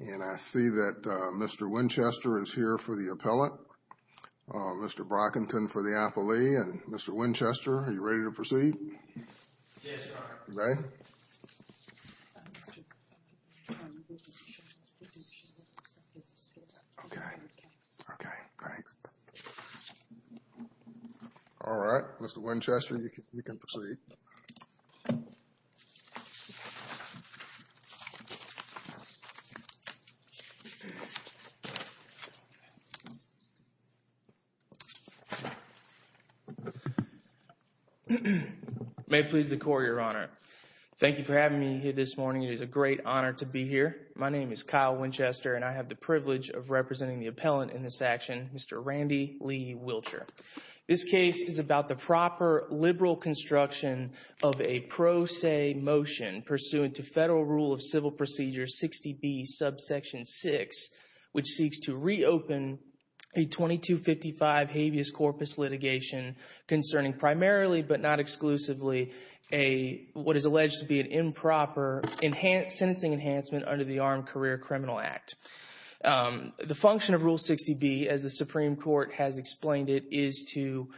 And I see that Mr. Winchester is here for the appellate. Mr. Brockington for the appellee. And Mr. Winchester, are you ready to proceed? Yes, Your Honor. You ready? Okay. Okay. Thanks. All right. Mr. Winchester, you can proceed. May it please the Court, Your Honor. Thank you for having me here this morning. It is a great honor to be here. My name is Kyle Winchester, and I have the privilege of representing the appellant in this action, Mr. Randy Lee Wilcher. This case is about the proper liberal construction of a pro se motion pursuant to Federal Rule of Civil Procedure 60B, subsection 6, which seeks to reopen a 2255 habeas corpus litigation concerning primarily, but not exclusively, what is alleged to be an improper sentencing enhancement under the Armed Career Criminal Act. The function of Rule 60B, as the Supreme Court has explained it, is to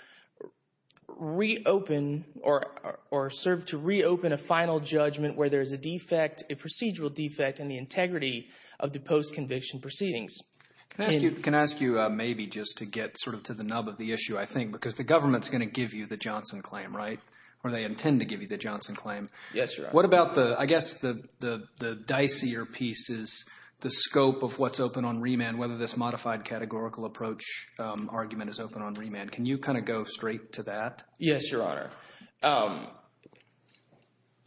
reopen or serve to reopen a final judgment where there is a defect, a procedural defect in the integrity of the post-conviction proceedings. Can I ask you maybe just to get sort of to the nub of the issue, I think, because the government is going to give you the Johnson claim, right? Or they intend to give you the Johnson claim. Yes, Your Honor. What about the – I guess the dicier piece is the scope of what's open on remand, whether this modified categorical approach argument is open on remand. Can you kind of go straight to that? Yes, Your Honor.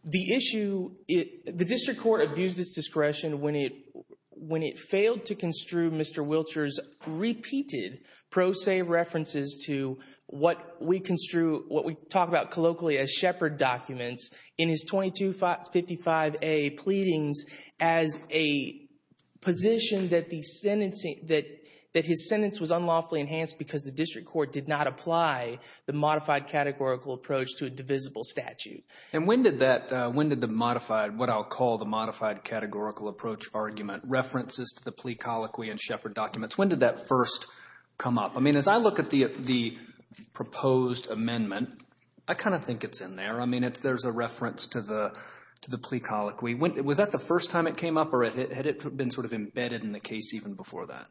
The issue – the district court abused its discretion when it failed to construe Mr. Wilcher's repeated pro se references to what we construe – what we talk about colloquially as shepherd documents in his 2255A pleadings as a position that the sentencing – that his sentence was unlawfully enhanced because the district court did not apply the modified categorical approach to a divisible statute. And when did that – when did the modified – what I'll call the modified categorical approach argument, references to the plea colloquy and shepherd documents, when did that first come up? I mean, as I look at the proposed amendment, I kind of think it's in there. I mean, there's a reference to the plea colloquy. Was that the first time it came up or had it been sort of embedded in the case even before that?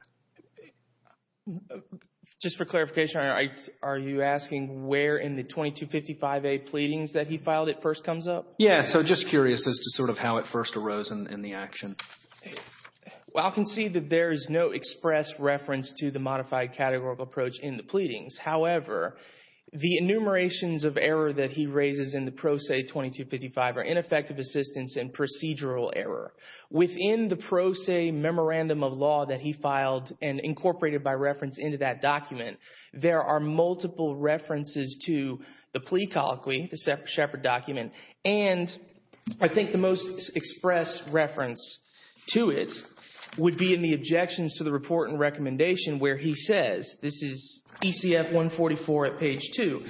Just for clarification, are you asking where in the 2255A pleadings that he filed it first comes up? Yes, so just curious as to sort of how it first arose in the action. Well, I can see that there is no express reference to the modified categorical approach in the pleadings. However, the enumerations of error that he raises in the pro se 2255 are ineffective assistance and procedural error. Within the pro se memorandum of law that he filed and incorporated by reference into that document, there are multiple references to the plea colloquy, the shepherd document, and I think the most express reference to it would be in the objections to the report and recommendation where he says, this is ECF 144 at page 2,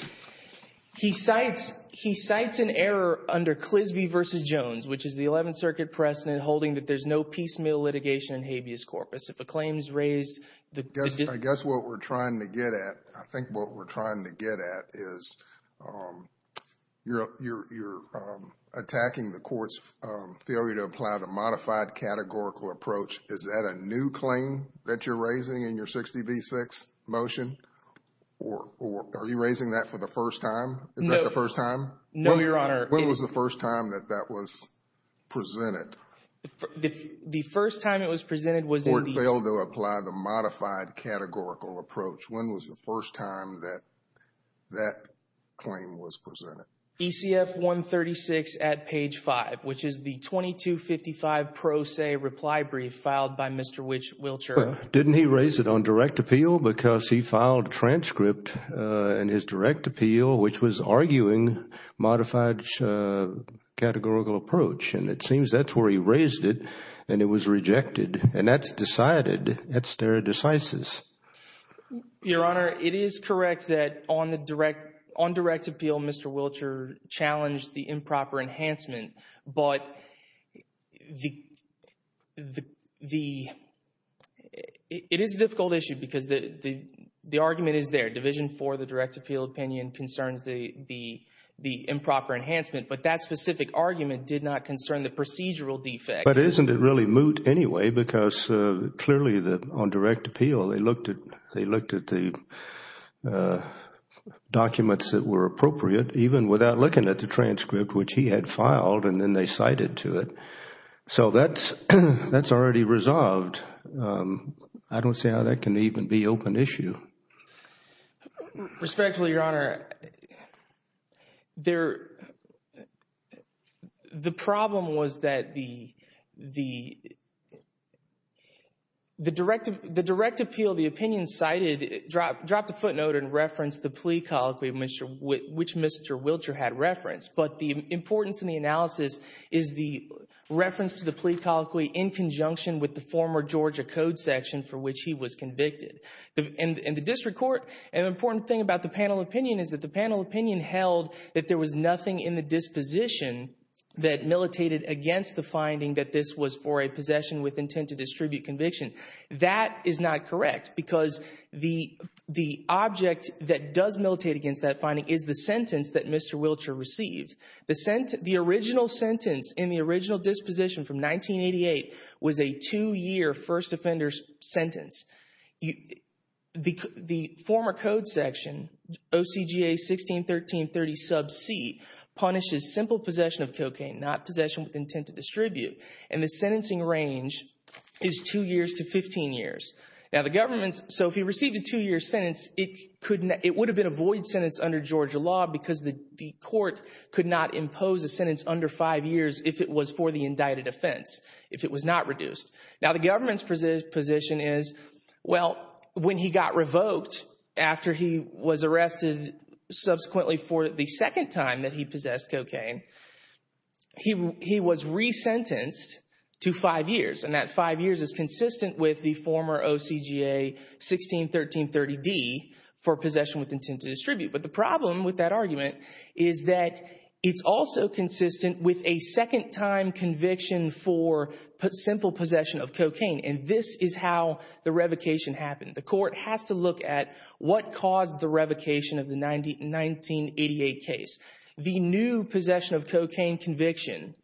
he cites an error under Clisby v. Jones, which is the 11th Circuit precedent holding that there's no piecemeal litigation in habeas corpus. If a claim is raised, the dis- You're attacking the court's failure to apply the modified categorical approach. Is that a new claim that you're raising in your 60 v. 6 motion? Or are you raising that for the first time? Is that the first time? No, Your Honor. When was the first time that that was presented? The first time it was presented was in the- Court failed to apply the modified categorical approach. When was the first time that that claim was presented? ECF 136 at page 5, which is the 2255 pro se reply brief filed by Mr. Wiltshire. Didn't he raise it on direct appeal? Because he filed a transcript in his direct appeal, which was arguing modified categorical approach. And it seems that's where he raised it, and it was rejected. And that's decided at stare decisis. Your Honor, it is correct that on the direct- On direct appeal, Mr. Wiltshire challenged the improper enhancement. But the- It is a difficult issue because the argument is there. Division 4, the direct appeal opinion, concerns the improper enhancement. But that specific argument did not concern the procedural defect. But isn't it really moot anyway? Because clearly on direct appeal, they looked at the documents that were appropriate, even without looking at the transcript, which he had filed, and then they cited to it. So that's already resolved. I don't see how that can even be open issue. Respectfully, Your Honor, the problem was that the direct appeal, the opinion cited, dropped a footnote and referenced the plea colloquy which Mr. Wiltshire had referenced. But the importance in the analysis is the reference to the plea colloquy in conjunction with the former Georgia Code section for which he was convicted. In the district court, an important thing about the panel opinion is that the panel opinion held that there was nothing in the disposition that militated against the finding that this was for a possession with intent to distribute conviction. That is not correct because the object that does militate against that finding is the sentence that Mr. Wiltshire received. The original sentence in the original disposition from 1988 was a two-year first offender's sentence. The former Code section, OCGA 161330 sub c, punishes simple possession of cocaine, not possession with intent to distribute. And the sentencing range is two years to 15 years. So if he received a two-year sentence, it would have been a void sentence under Georgia law because the court could not impose a sentence under five years if it was for the indicted offense, if it was not reduced. Now, the government's position is, well, when he got revoked after he was arrested subsequently for the second time that he possessed cocaine, he was resentenced to five years. And that five years is consistent with the former OCGA 161330d for possession with intent to distribute. But the problem with that argument is that it's also consistent with a second-time conviction for simple possession of cocaine. And this is how the revocation happened. The court has to look at what caused the revocation of the 1988 case. The new possession of cocaine conviction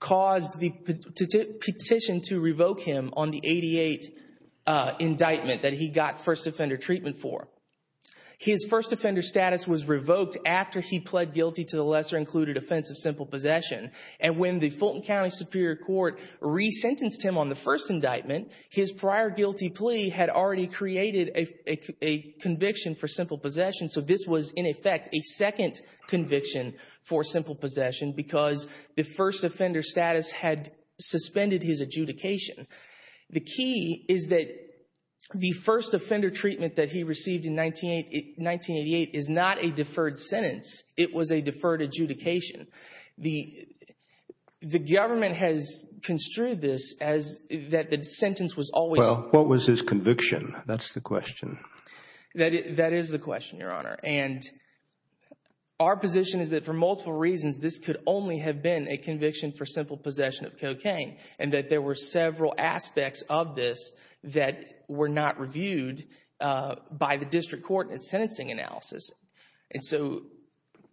caused the petition to revoke him on the 88 indictment that he got first offender treatment for. His first offender status was revoked after he pled guilty to the lesser included offense of simple possession. And when the Fulton County Superior Court resentenced him on the first indictment, his prior guilty plea had already created a conviction for simple possession. So this was, in effect, a second conviction for simple possession because the first offender status had suspended his adjudication. The key is that the first offender treatment that he received in 1988 is not a deferred sentence. It was a deferred adjudication. The government has construed this as that the sentence was always— Well, what was his conviction? That's the question. That is the question, Your Honor. And our position is that for multiple reasons, this could only have been a conviction for simple possession of cocaine and that there were several aspects of this that were not reviewed by the district court in its sentencing analysis. And so—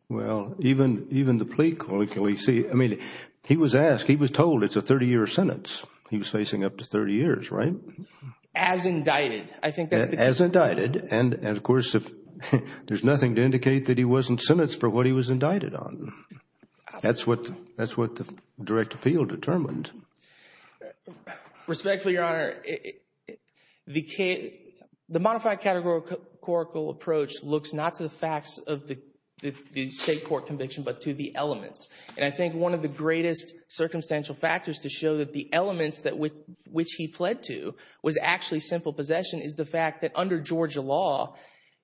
Well, even the plea, I mean, he was asked, he was told it's a 30-year sentence. He was facing up to 30 years, right? As indicted. I think that's the— As indicted. And, of course, there's nothing to indicate that he wasn't sentenced for what he was indicted on. That's what the direct appeal determined. Respectfully, Your Honor, the modified categorical approach looks not to the facts of the state court conviction but to the elements. And I think one of the greatest circumstantial factors to show that the elements which he pled to was actually simple possession is the fact that under Georgia law,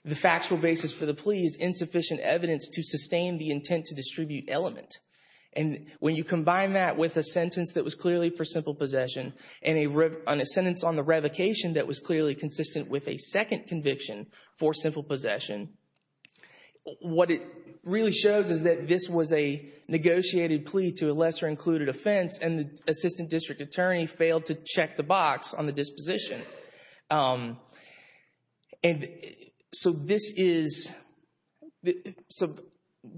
the factual basis for the plea is insufficient evidence to sustain the intent to distribute element. And when you combine that with a sentence that was clearly for simple possession and a sentence on the revocation that was clearly consistent with a second conviction for simple possession, what it really shows is that this was a negotiated plea to a lesser-included offense and the assistant district attorney failed to check the box on the disposition. And so this is—so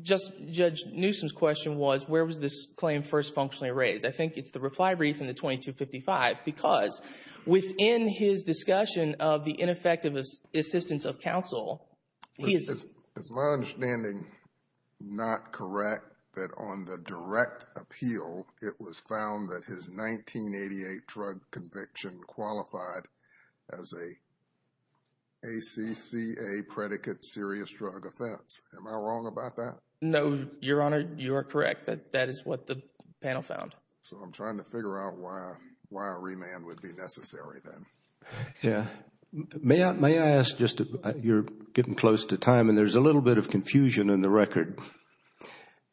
Judge Newsom's question was, where was this claim first functionally raised? I think it's the reply brief in the 2255 because within his discussion of the ineffective assistance of counsel, he is— he found that his 1988 drug conviction qualified as a ACCA predicate serious drug offense. Am I wrong about that? No, Your Honor, you are correct. That is what the panel found. So I'm trying to figure out why a remand would be necessary then. Yeah. May I ask just—you're getting close to time and there's a little bit of confusion in the record.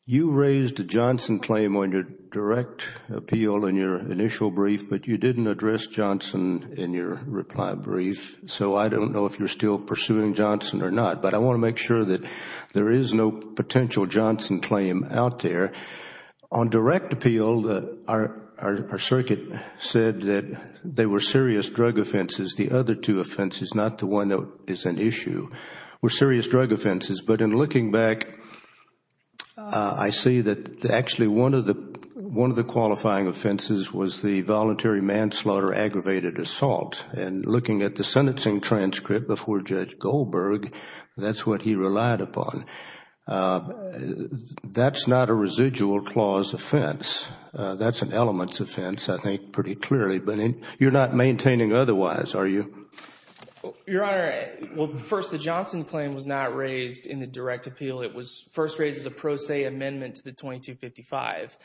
You raised a Johnson claim on your direct appeal in your initial brief, but you didn't address Johnson in your reply brief. So I don't know if you're still pursuing Johnson or not. But I want to make sure that there is no potential Johnson claim out there. On direct appeal, our circuit said that they were serious drug offenses. The other two offenses, not the one that is an issue, were serious drug offenses. But in looking back, I see that actually one of the qualifying offenses was the voluntary manslaughter aggravated assault. And looking at the sentencing transcript before Judge Goldberg, that's what he relied upon. That's not a residual clause offense. That's an elements offense, I think, pretty clearly. But you're not maintaining otherwise, are you? Your Honor, well, first, the Johnson claim was not raised in the direct appeal. It was first raised as a pro se amendment to the 2255.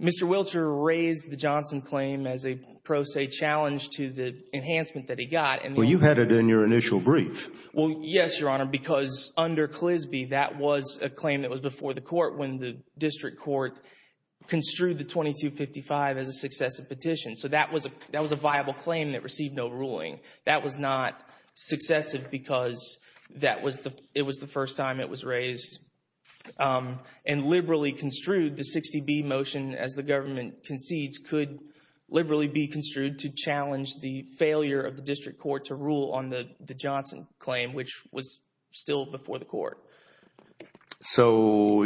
Mr. Wiltshire raised the Johnson claim as a pro se challenge to the enhancement that he got. Well, you had it in your initial brief. Well, yes, Your Honor, because under Clisby, that was a claim that was before the court when the district court construed the 2255 as a successive petition. So that was a viable claim that received no ruling. That was not successive because it was the first time it was raised. And liberally construed, the 60B motion, as the government concedes, could liberally be construed to challenge the failure of the district court to rule on the Johnson claim, which was still before the court. So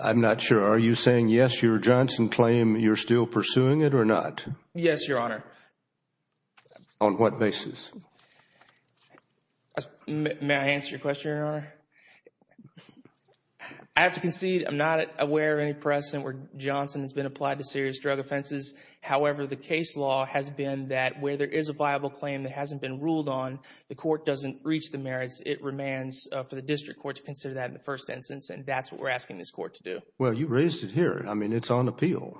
I'm not sure. Are you saying, yes, your Johnson claim, you're still pursuing it or not? Yes, Your Honor. On what basis? May I answer your question, Your Honor? I have to concede I'm not aware of any precedent where Johnson has been applied to serious drug offenses. However, the case law has been that where there is a viable claim that hasn't been ruled on, the court doesn't reach the merits. It remains for the district court to consider that in the first instance, and that's what we're asking this court to do. Well, you raised it here. I mean, it's on appeal,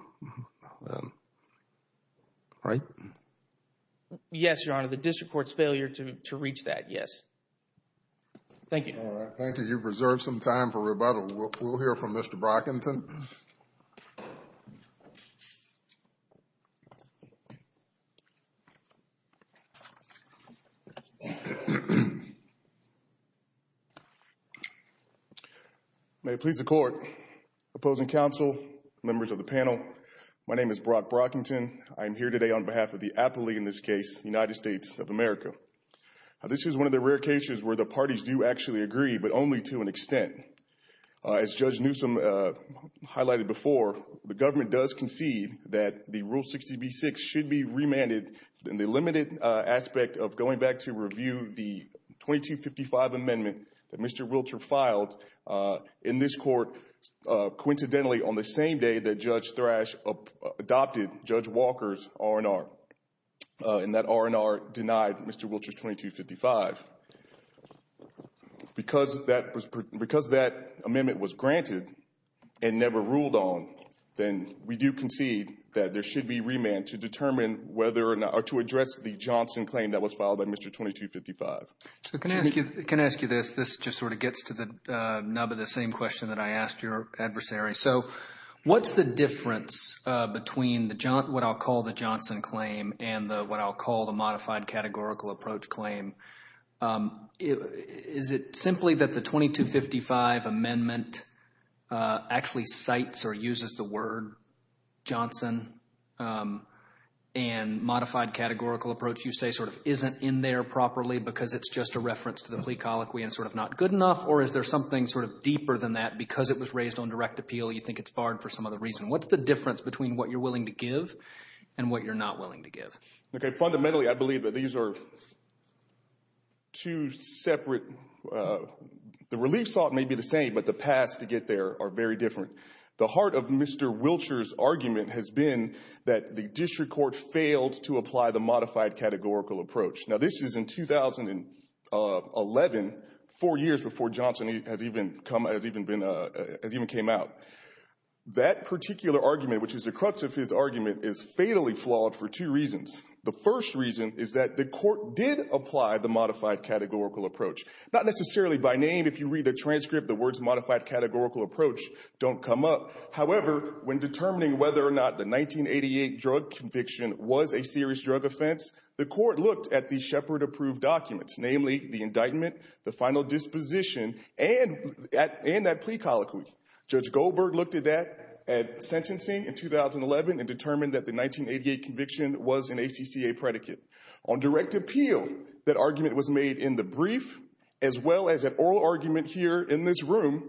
right? Yes, Your Honor. The district court's failure to reach that, yes. Thank you. All right. Thank you. You've reserved some time for rebuttal. We'll hear from Mr. Brockington. May it please the court, opposing counsel, members of the panel, my name is Brock Brockington. I am here today on behalf of the appellee in this case, United States of America. This is one of the rare cases where the parties do actually agree, but only to an extent. As Judge Newsom highlighted before, the government does concede that the Rule 60B-6 should be remanded, and the limited aspect of going back to review the 2255 amendment that Mr. Wiltshire filed in this court, coincidentally on the same day that Judge Thrash adopted Judge Walker's R&R, and that R&R denied Mr. Wiltshire's 2255. Because that amendment was granted and never ruled on, then we do concede that there should be remand to determine whether or not, or to address the Johnson claim that was filed by Mr. 2255. Can I ask you this? This just sort of gets to the nub of the same question that I asked your adversary. So what's the difference between what I'll call the Johnson claim and what I'll call the modified categorical approach claim? Is it simply that the 2255 amendment actually cites or uses the word Johnson and modified categorical approach you say sort of isn't in there properly because it's just a reference to the plea colloquy and sort of not good enough, or is there something sort of deeper than that? Because it was raised on direct appeal, you think it's barred for some other reason. What's the difference between what you're willing to give and what you're not willing to give? Fundamentally, I believe that these are two separate—the relief sought may be the same, but the paths to get there are very different. The heart of Mr. Wilshire's argument has been that the district court failed to apply the modified categorical approach. Now this is in 2011, four years before Johnson has even came out. That particular argument, which is the crux of his argument, is fatally flawed for two reasons. The first reason is that the court did apply the modified categorical approach. Not necessarily by name. If you read the transcript, the words modified categorical approach don't come up. However, when determining whether or not the 1988 drug conviction was a serious drug offense, the court looked at the Shepard-approved documents, namely the indictment, the final disposition, and that plea colloquy. Judge Goldberg looked at that at sentencing in 2011 and determined that the 1988 conviction was an ACCA predicate. On direct appeal, that argument was made in the brief as well as an oral argument here in this room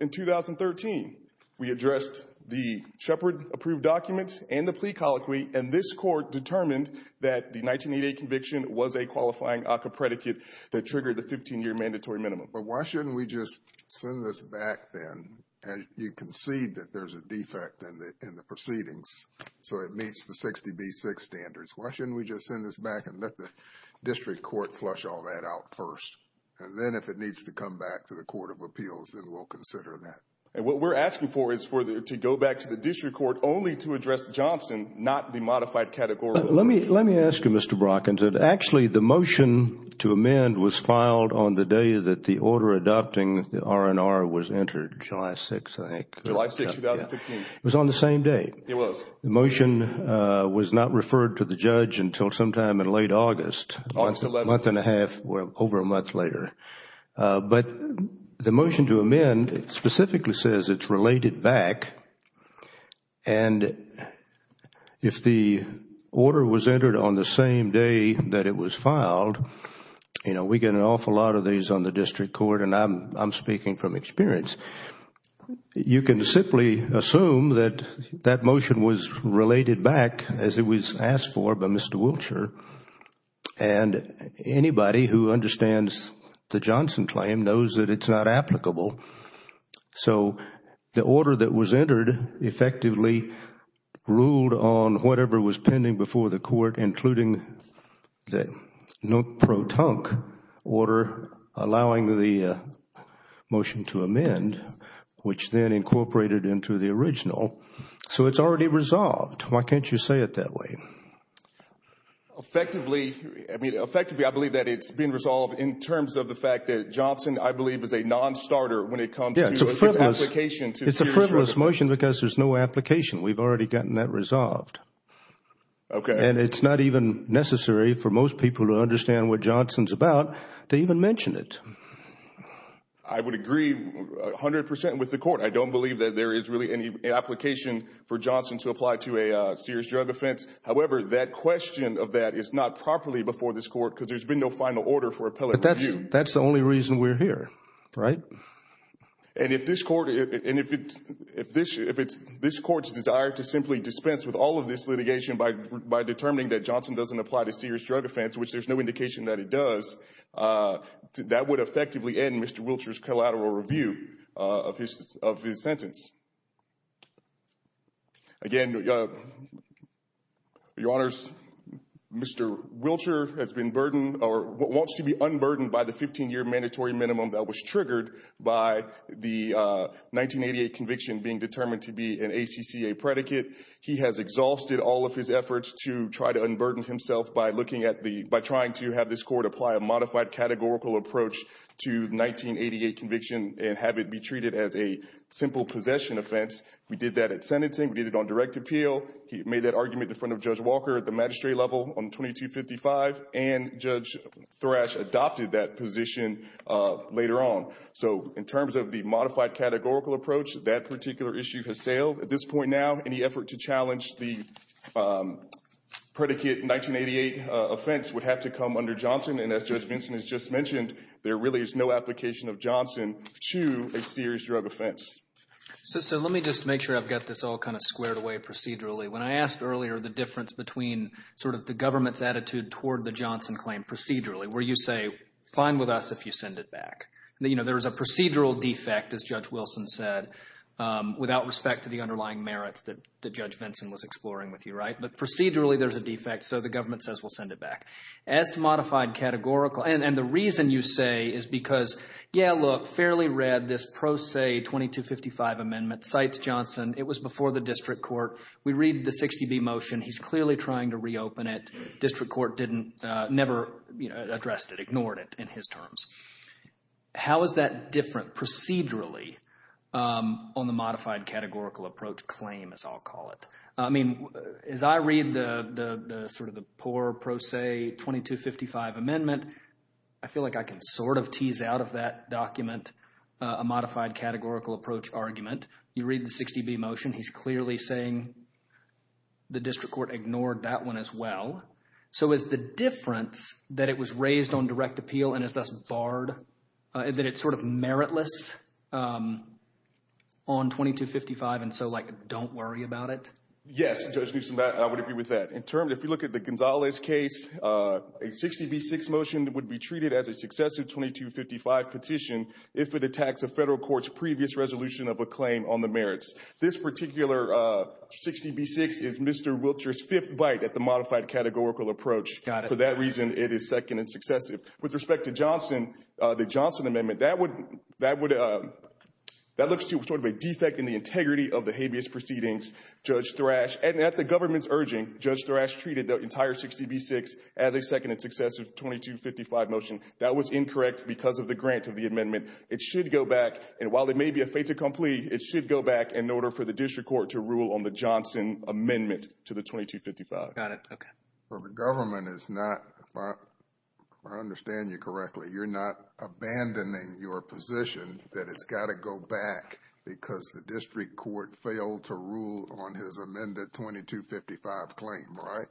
in 2013. We addressed the Shepard-approved documents and the plea colloquy, and this court determined that the 1988 conviction was a qualifying ACCA predicate that triggered the 15-year mandatory minimum. But why shouldn't we just send this back then? You concede that there's a defect in the proceedings, so it meets the 60B6 standards. Why shouldn't we just send this back and let the district court flush all that out first? And then if it needs to come back to the Court of Appeals, then we'll consider that. What we're asking for is to go back to the district court only to address Johnson, not the modified categorical approach. Let me ask you, Mr. Brock, actually the motion to amend was filed on the day that the order adopting the R&R was entered, July 6th, I think. July 6th, 2015. It was on the same day. It was. The motion was not referred to the judge until sometime in late August. August 11th. A month and a half, well, over a month later. But the motion to amend specifically says it's related back, and if the order was entered on the same day that it was filed, we get an awful lot of these on the district court, and I'm speaking from experience. You can simply assume that that motion was related back as it was asked for by Mr. Wiltshire, and anybody who understands the Johnson claim knows that it's not applicable. So the order that was entered effectively ruled on whatever was pending before the court, including the no pro tonk order allowing the motion to amend, which then incorporated into the original. So it's already resolved. Why can't you say it that way? Effectively, I believe that it's been resolved in terms of the fact that Johnson, I believe, is a nonstarter when it comes to its application to Sears Drug Offense. It's a frivolous motion because there's no application. We've already gotten that resolved. Okay. And it's not even necessary for most people to understand what Johnson's about to even mention it. I would agree 100% with the court. I don't believe that there is really any application for Johnson to apply to a Sears Drug Offense. However, that question of that is not properly before this court because there's been no final order for appellate review. But that's the only reason we're here, right? And if this court's desire to simply dispense with all of this litigation by determining that Johnson doesn't apply to Sears Drug Offense, which there's no indication that it does, that would effectively end Mr. Wilcher's collateral review of his sentence. Again, Your Honors, Mr. Wilcher has been burdened or wants to be unburdened by the 15-year mandatory minimum that was triggered by the 1988 conviction being determined to be an ACCA predicate. He has exhausted all of his efforts to try to unburden himself by looking at the – to 1988 conviction and have it be treated as a simple possession offense. We did that at sentencing. We did it on direct appeal. He made that argument in front of Judge Walker at the magistrate level on 2255. And Judge Thrash adopted that position later on. So in terms of the modified categorical approach, that particular issue has sailed. At this point now, any effort to challenge the predicate 1988 offense would have to come under Johnson. And as Judge Vinson has just mentioned, there really is no application of Johnson to a Sears Drug Offense. So let me just make sure I've got this all kind of squared away procedurally. When I asked earlier the difference between sort of the government's attitude toward the Johnson claim procedurally, where you say, fine with us if you send it back. There is a procedural defect, as Judge Wilson said, without respect to the underlying merits that Judge Vinson was exploring with you, right? But procedurally there's a defect, so the government says we'll send it back. As to modified categorical, and the reason you say is because, yeah, look, Fairley read this pro se 2255 amendment, cites Johnson. It was before the district court. We read the 60B motion. He's clearly trying to reopen it. District court didn't, never addressed it, ignored it in his terms. How is that different procedurally on the modified categorical approach claim, as I'll call it? I mean, as I read the sort of the poor pro se 2255 amendment, I feel like I can sort of tease out of that document a modified categorical approach argument. You read the 60B motion. He's clearly saying the district court ignored that one as well. So is the difference that it was raised on direct appeal and is thus barred, that it's sort of meritless on 2255 and so, like, don't worry about it? Yes, Judge Newsom, I would agree with that. In terms, if you look at the Gonzalez case, a 60B6 motion would be treated as a successive 2255 petition if it attacks a federal court's previous resolution of a claim on the merits. This particular 60B6 is Mr. Wiltshire's fifth bite at the modified categorical approach. For that reason, it is second and successive. With respect to Johnson, the Johnson amendment, that would, that would, that looks to sort of a defect in the integrity of the habeas proceedings, Judge Thrash. And at the government's urging, Judge Thrash treated the entire 60B6 as a second and successive 2255 motion. That was incorrect because of the grant of the amendment. It should go back, and while it may be a fait accompli, it should go back in order for the district court to rule on the Johnson amendment to the 2255. Got it. Okay. So the government is not, if I understand you correctly, you're not abandoning your position that it's got to go back because the district court failed to rule on his amended 2255 claim, right?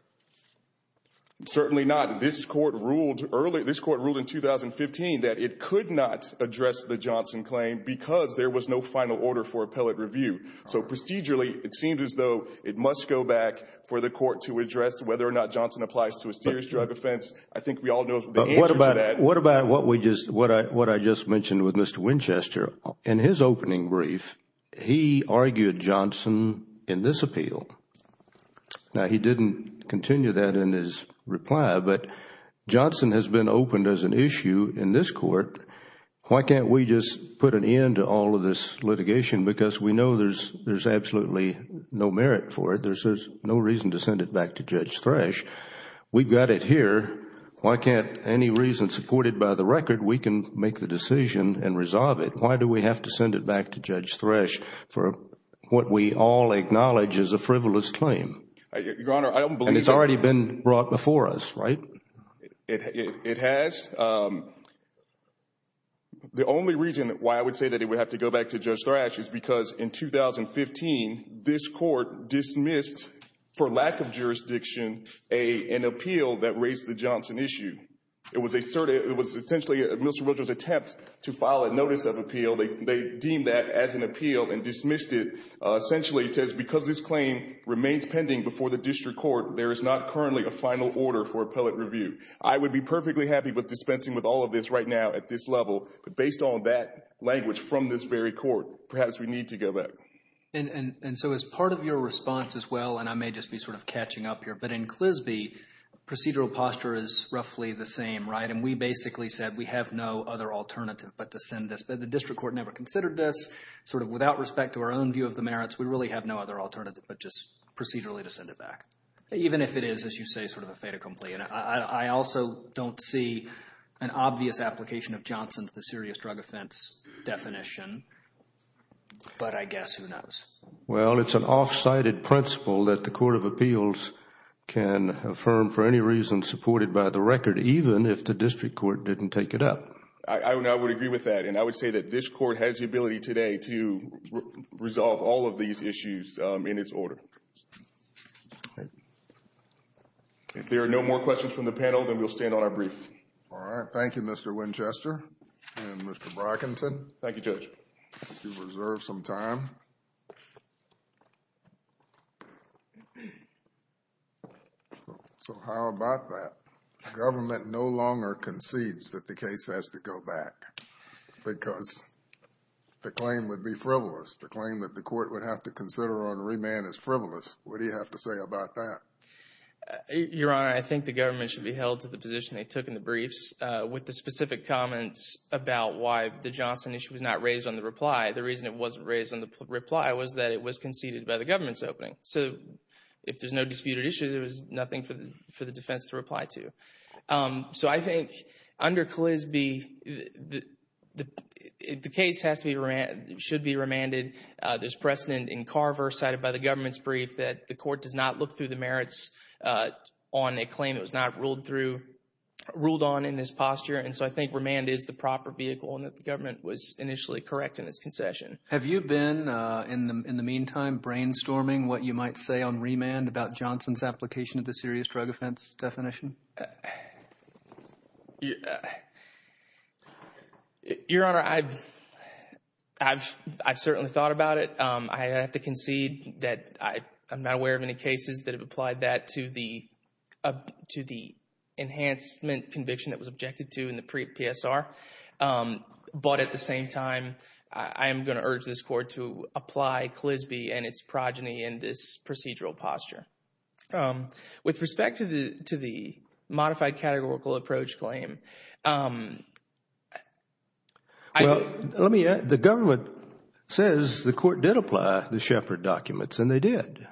Certainly not. This court ruled early, this court ruled in 2015 that it could not address the Johnson claim because there was no final order for appellate review. So, procedurally, it seems as though it must go back for the court to address whether or not Johnson applies to a serious drug offense. I think we all know the answer to that. What about, what about what we just, what I just mentioned with Mr. Winchester? In his opening brief, he argued Johnson in this appeal. Now, he didn't continue that in his reply, but Johnson has been opened as an issue in this court. Why can't we just put an end to all of this litigation? Because we know there's absolutely no merit for it. There's no reason to send it back to Judge Thresh. We've got it here. Why can't any reason supported by the record, we can make the decision and resolve it? Why do we have to send it back to Judge Thresh for what we all acknowledge is a frivolous claim? Your Honor, I don't believe that. And it's already been brought before us, right? It has. The only reason why I would say that it would have to go back to Judge Thresh is because in 2015, this court dismissed, for lack of jurisdiction, an appeal that raised the Johnson issue. It was essentially Mr. Winchester's attempt to file a notice of appeal. They deemed that as an appeal and dismissed it. Essentially, it says because this claim remains pending before the district court, there is not currently a final order for appellate review. I would be perfectly happy with dispensing with all of this right now at this level. But based on that language from this very court, perhaps we need to go back. And so as part of your response as well, and I may just be sort of catching up here, but in Clisby, procedural posture is roughly the same, right? And we basically said we have no other alternative but to send this. The district court never considered this. Sort of without respect to our own view of the merits, we really have no other alternative but just procedurally to send it back. Even if it is, as you say, sort of a fait accompli. I also don't see an obvious application of Johnson to the serious drug offense definition. But I guess who knows. Well, it's an off-sited principle that the court of appeals can affirm for any reason supported by the record, even if the district court didn't take it up. I would agree with that. And I would say that this court has the ability today to resolve all of these issues in its order. If there are no more questions from the panel, then we'll stand on our brief. All right. Thank you, Mr. Winchester and Mr. Brockington. Thank you, Judge. You've reserved some time. So how about that? The government no longer concedes that the case has to go back because the claim would be frivolous. The claim that the court would have to consider on remand is frivolous. What do you have to say about that? Your Honor, I think the government should be held to the position they took in the briefs with the specific comments about why the Johnson issue was not raised on the reply. The reason it wasn't raised on the reply was that it was conceded by the government's opening. So if there's no disputed issue, there's nothing for the defense to reply to. So I think under Calisby, the case should be remanded. There's precedent in Carver cited by the government's brief that the court does not look through the merits on a claim that was not ruled on in this posture. And so I think remand is the proper vehicle and that the government was initially correct in its concession. Have you been in the meantime brainstorming what you might say on remand about Johnson's application of the serious drug offense definition? Your Honor, I've certainly thought about it. I have to concede that I'm not aware of any cases that have applied that to the enhancement conviction that was objected to in the PSR. But at the same time, I am going to urge this court to apply Calisby and its progeny in this procedural posture. With respect to the modified categorical approach claim. Let me add, the government says the court did apply the Shepard documents and they did.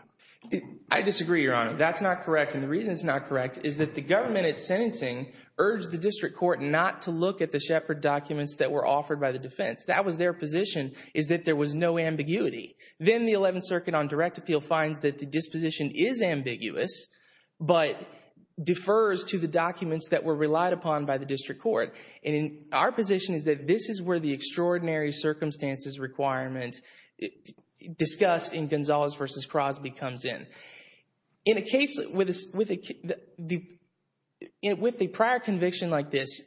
I disagree, Your Honor, that's not correct. And the reason it's not correct is that the government at sentencing urged the district court not to look at the Shepard documents that were offered by the defense. That was their position is that there was no ambiguity. Then the 11th Circuit on direct appeal finds that the disposition is ambiguous, but defers to the documents that were relied upon by the district court. And our position is that this is where the extraordinary circumstances requirement discussed in Gonzalez v. Crosby comes in. In a case with a prior conviction like this,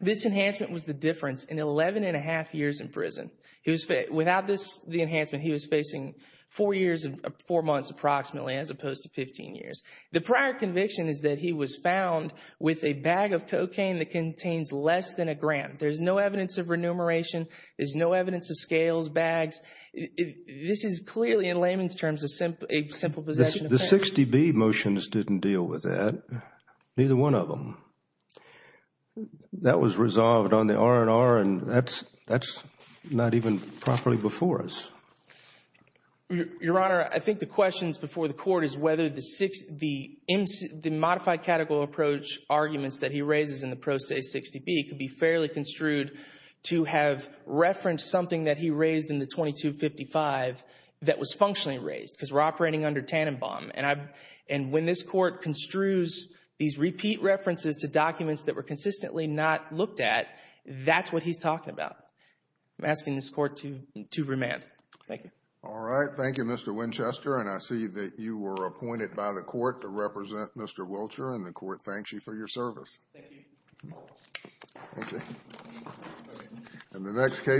this enhancement was the difference in 11 and a half years in prison. Without the enhancement, he was facing four months approximately as opposed to 15 years. The prior conviction is that he was found with a bag of cocaine that contains less than a gram. There's no evidence of remuneration. There's no evidence of scales, bags. This is clearly in layman's terms a simple possession offense. The 60B motions didn't deal with that, neither one of them. That was resolved on the R&R and that's not even properly before us. Your Honor, I think the questions before the court is whether the modified categorical approach arguments that he raises in the pro se 60B could be fairly construed to have referenced something that he raised in the 2255 that was functionally raised because we're operating under Tannenbaum. And when this court construes these repeat references to documents that were consistently not looked at, that's what he's talking about. I'm asking this court to remand. Thank you. All right. Thank you, Mr. Winchester. And I see that you were appointed by the court to represent Mr. Wiltshire and the court thanks you for your service. Thank you. Thank you. In the next case.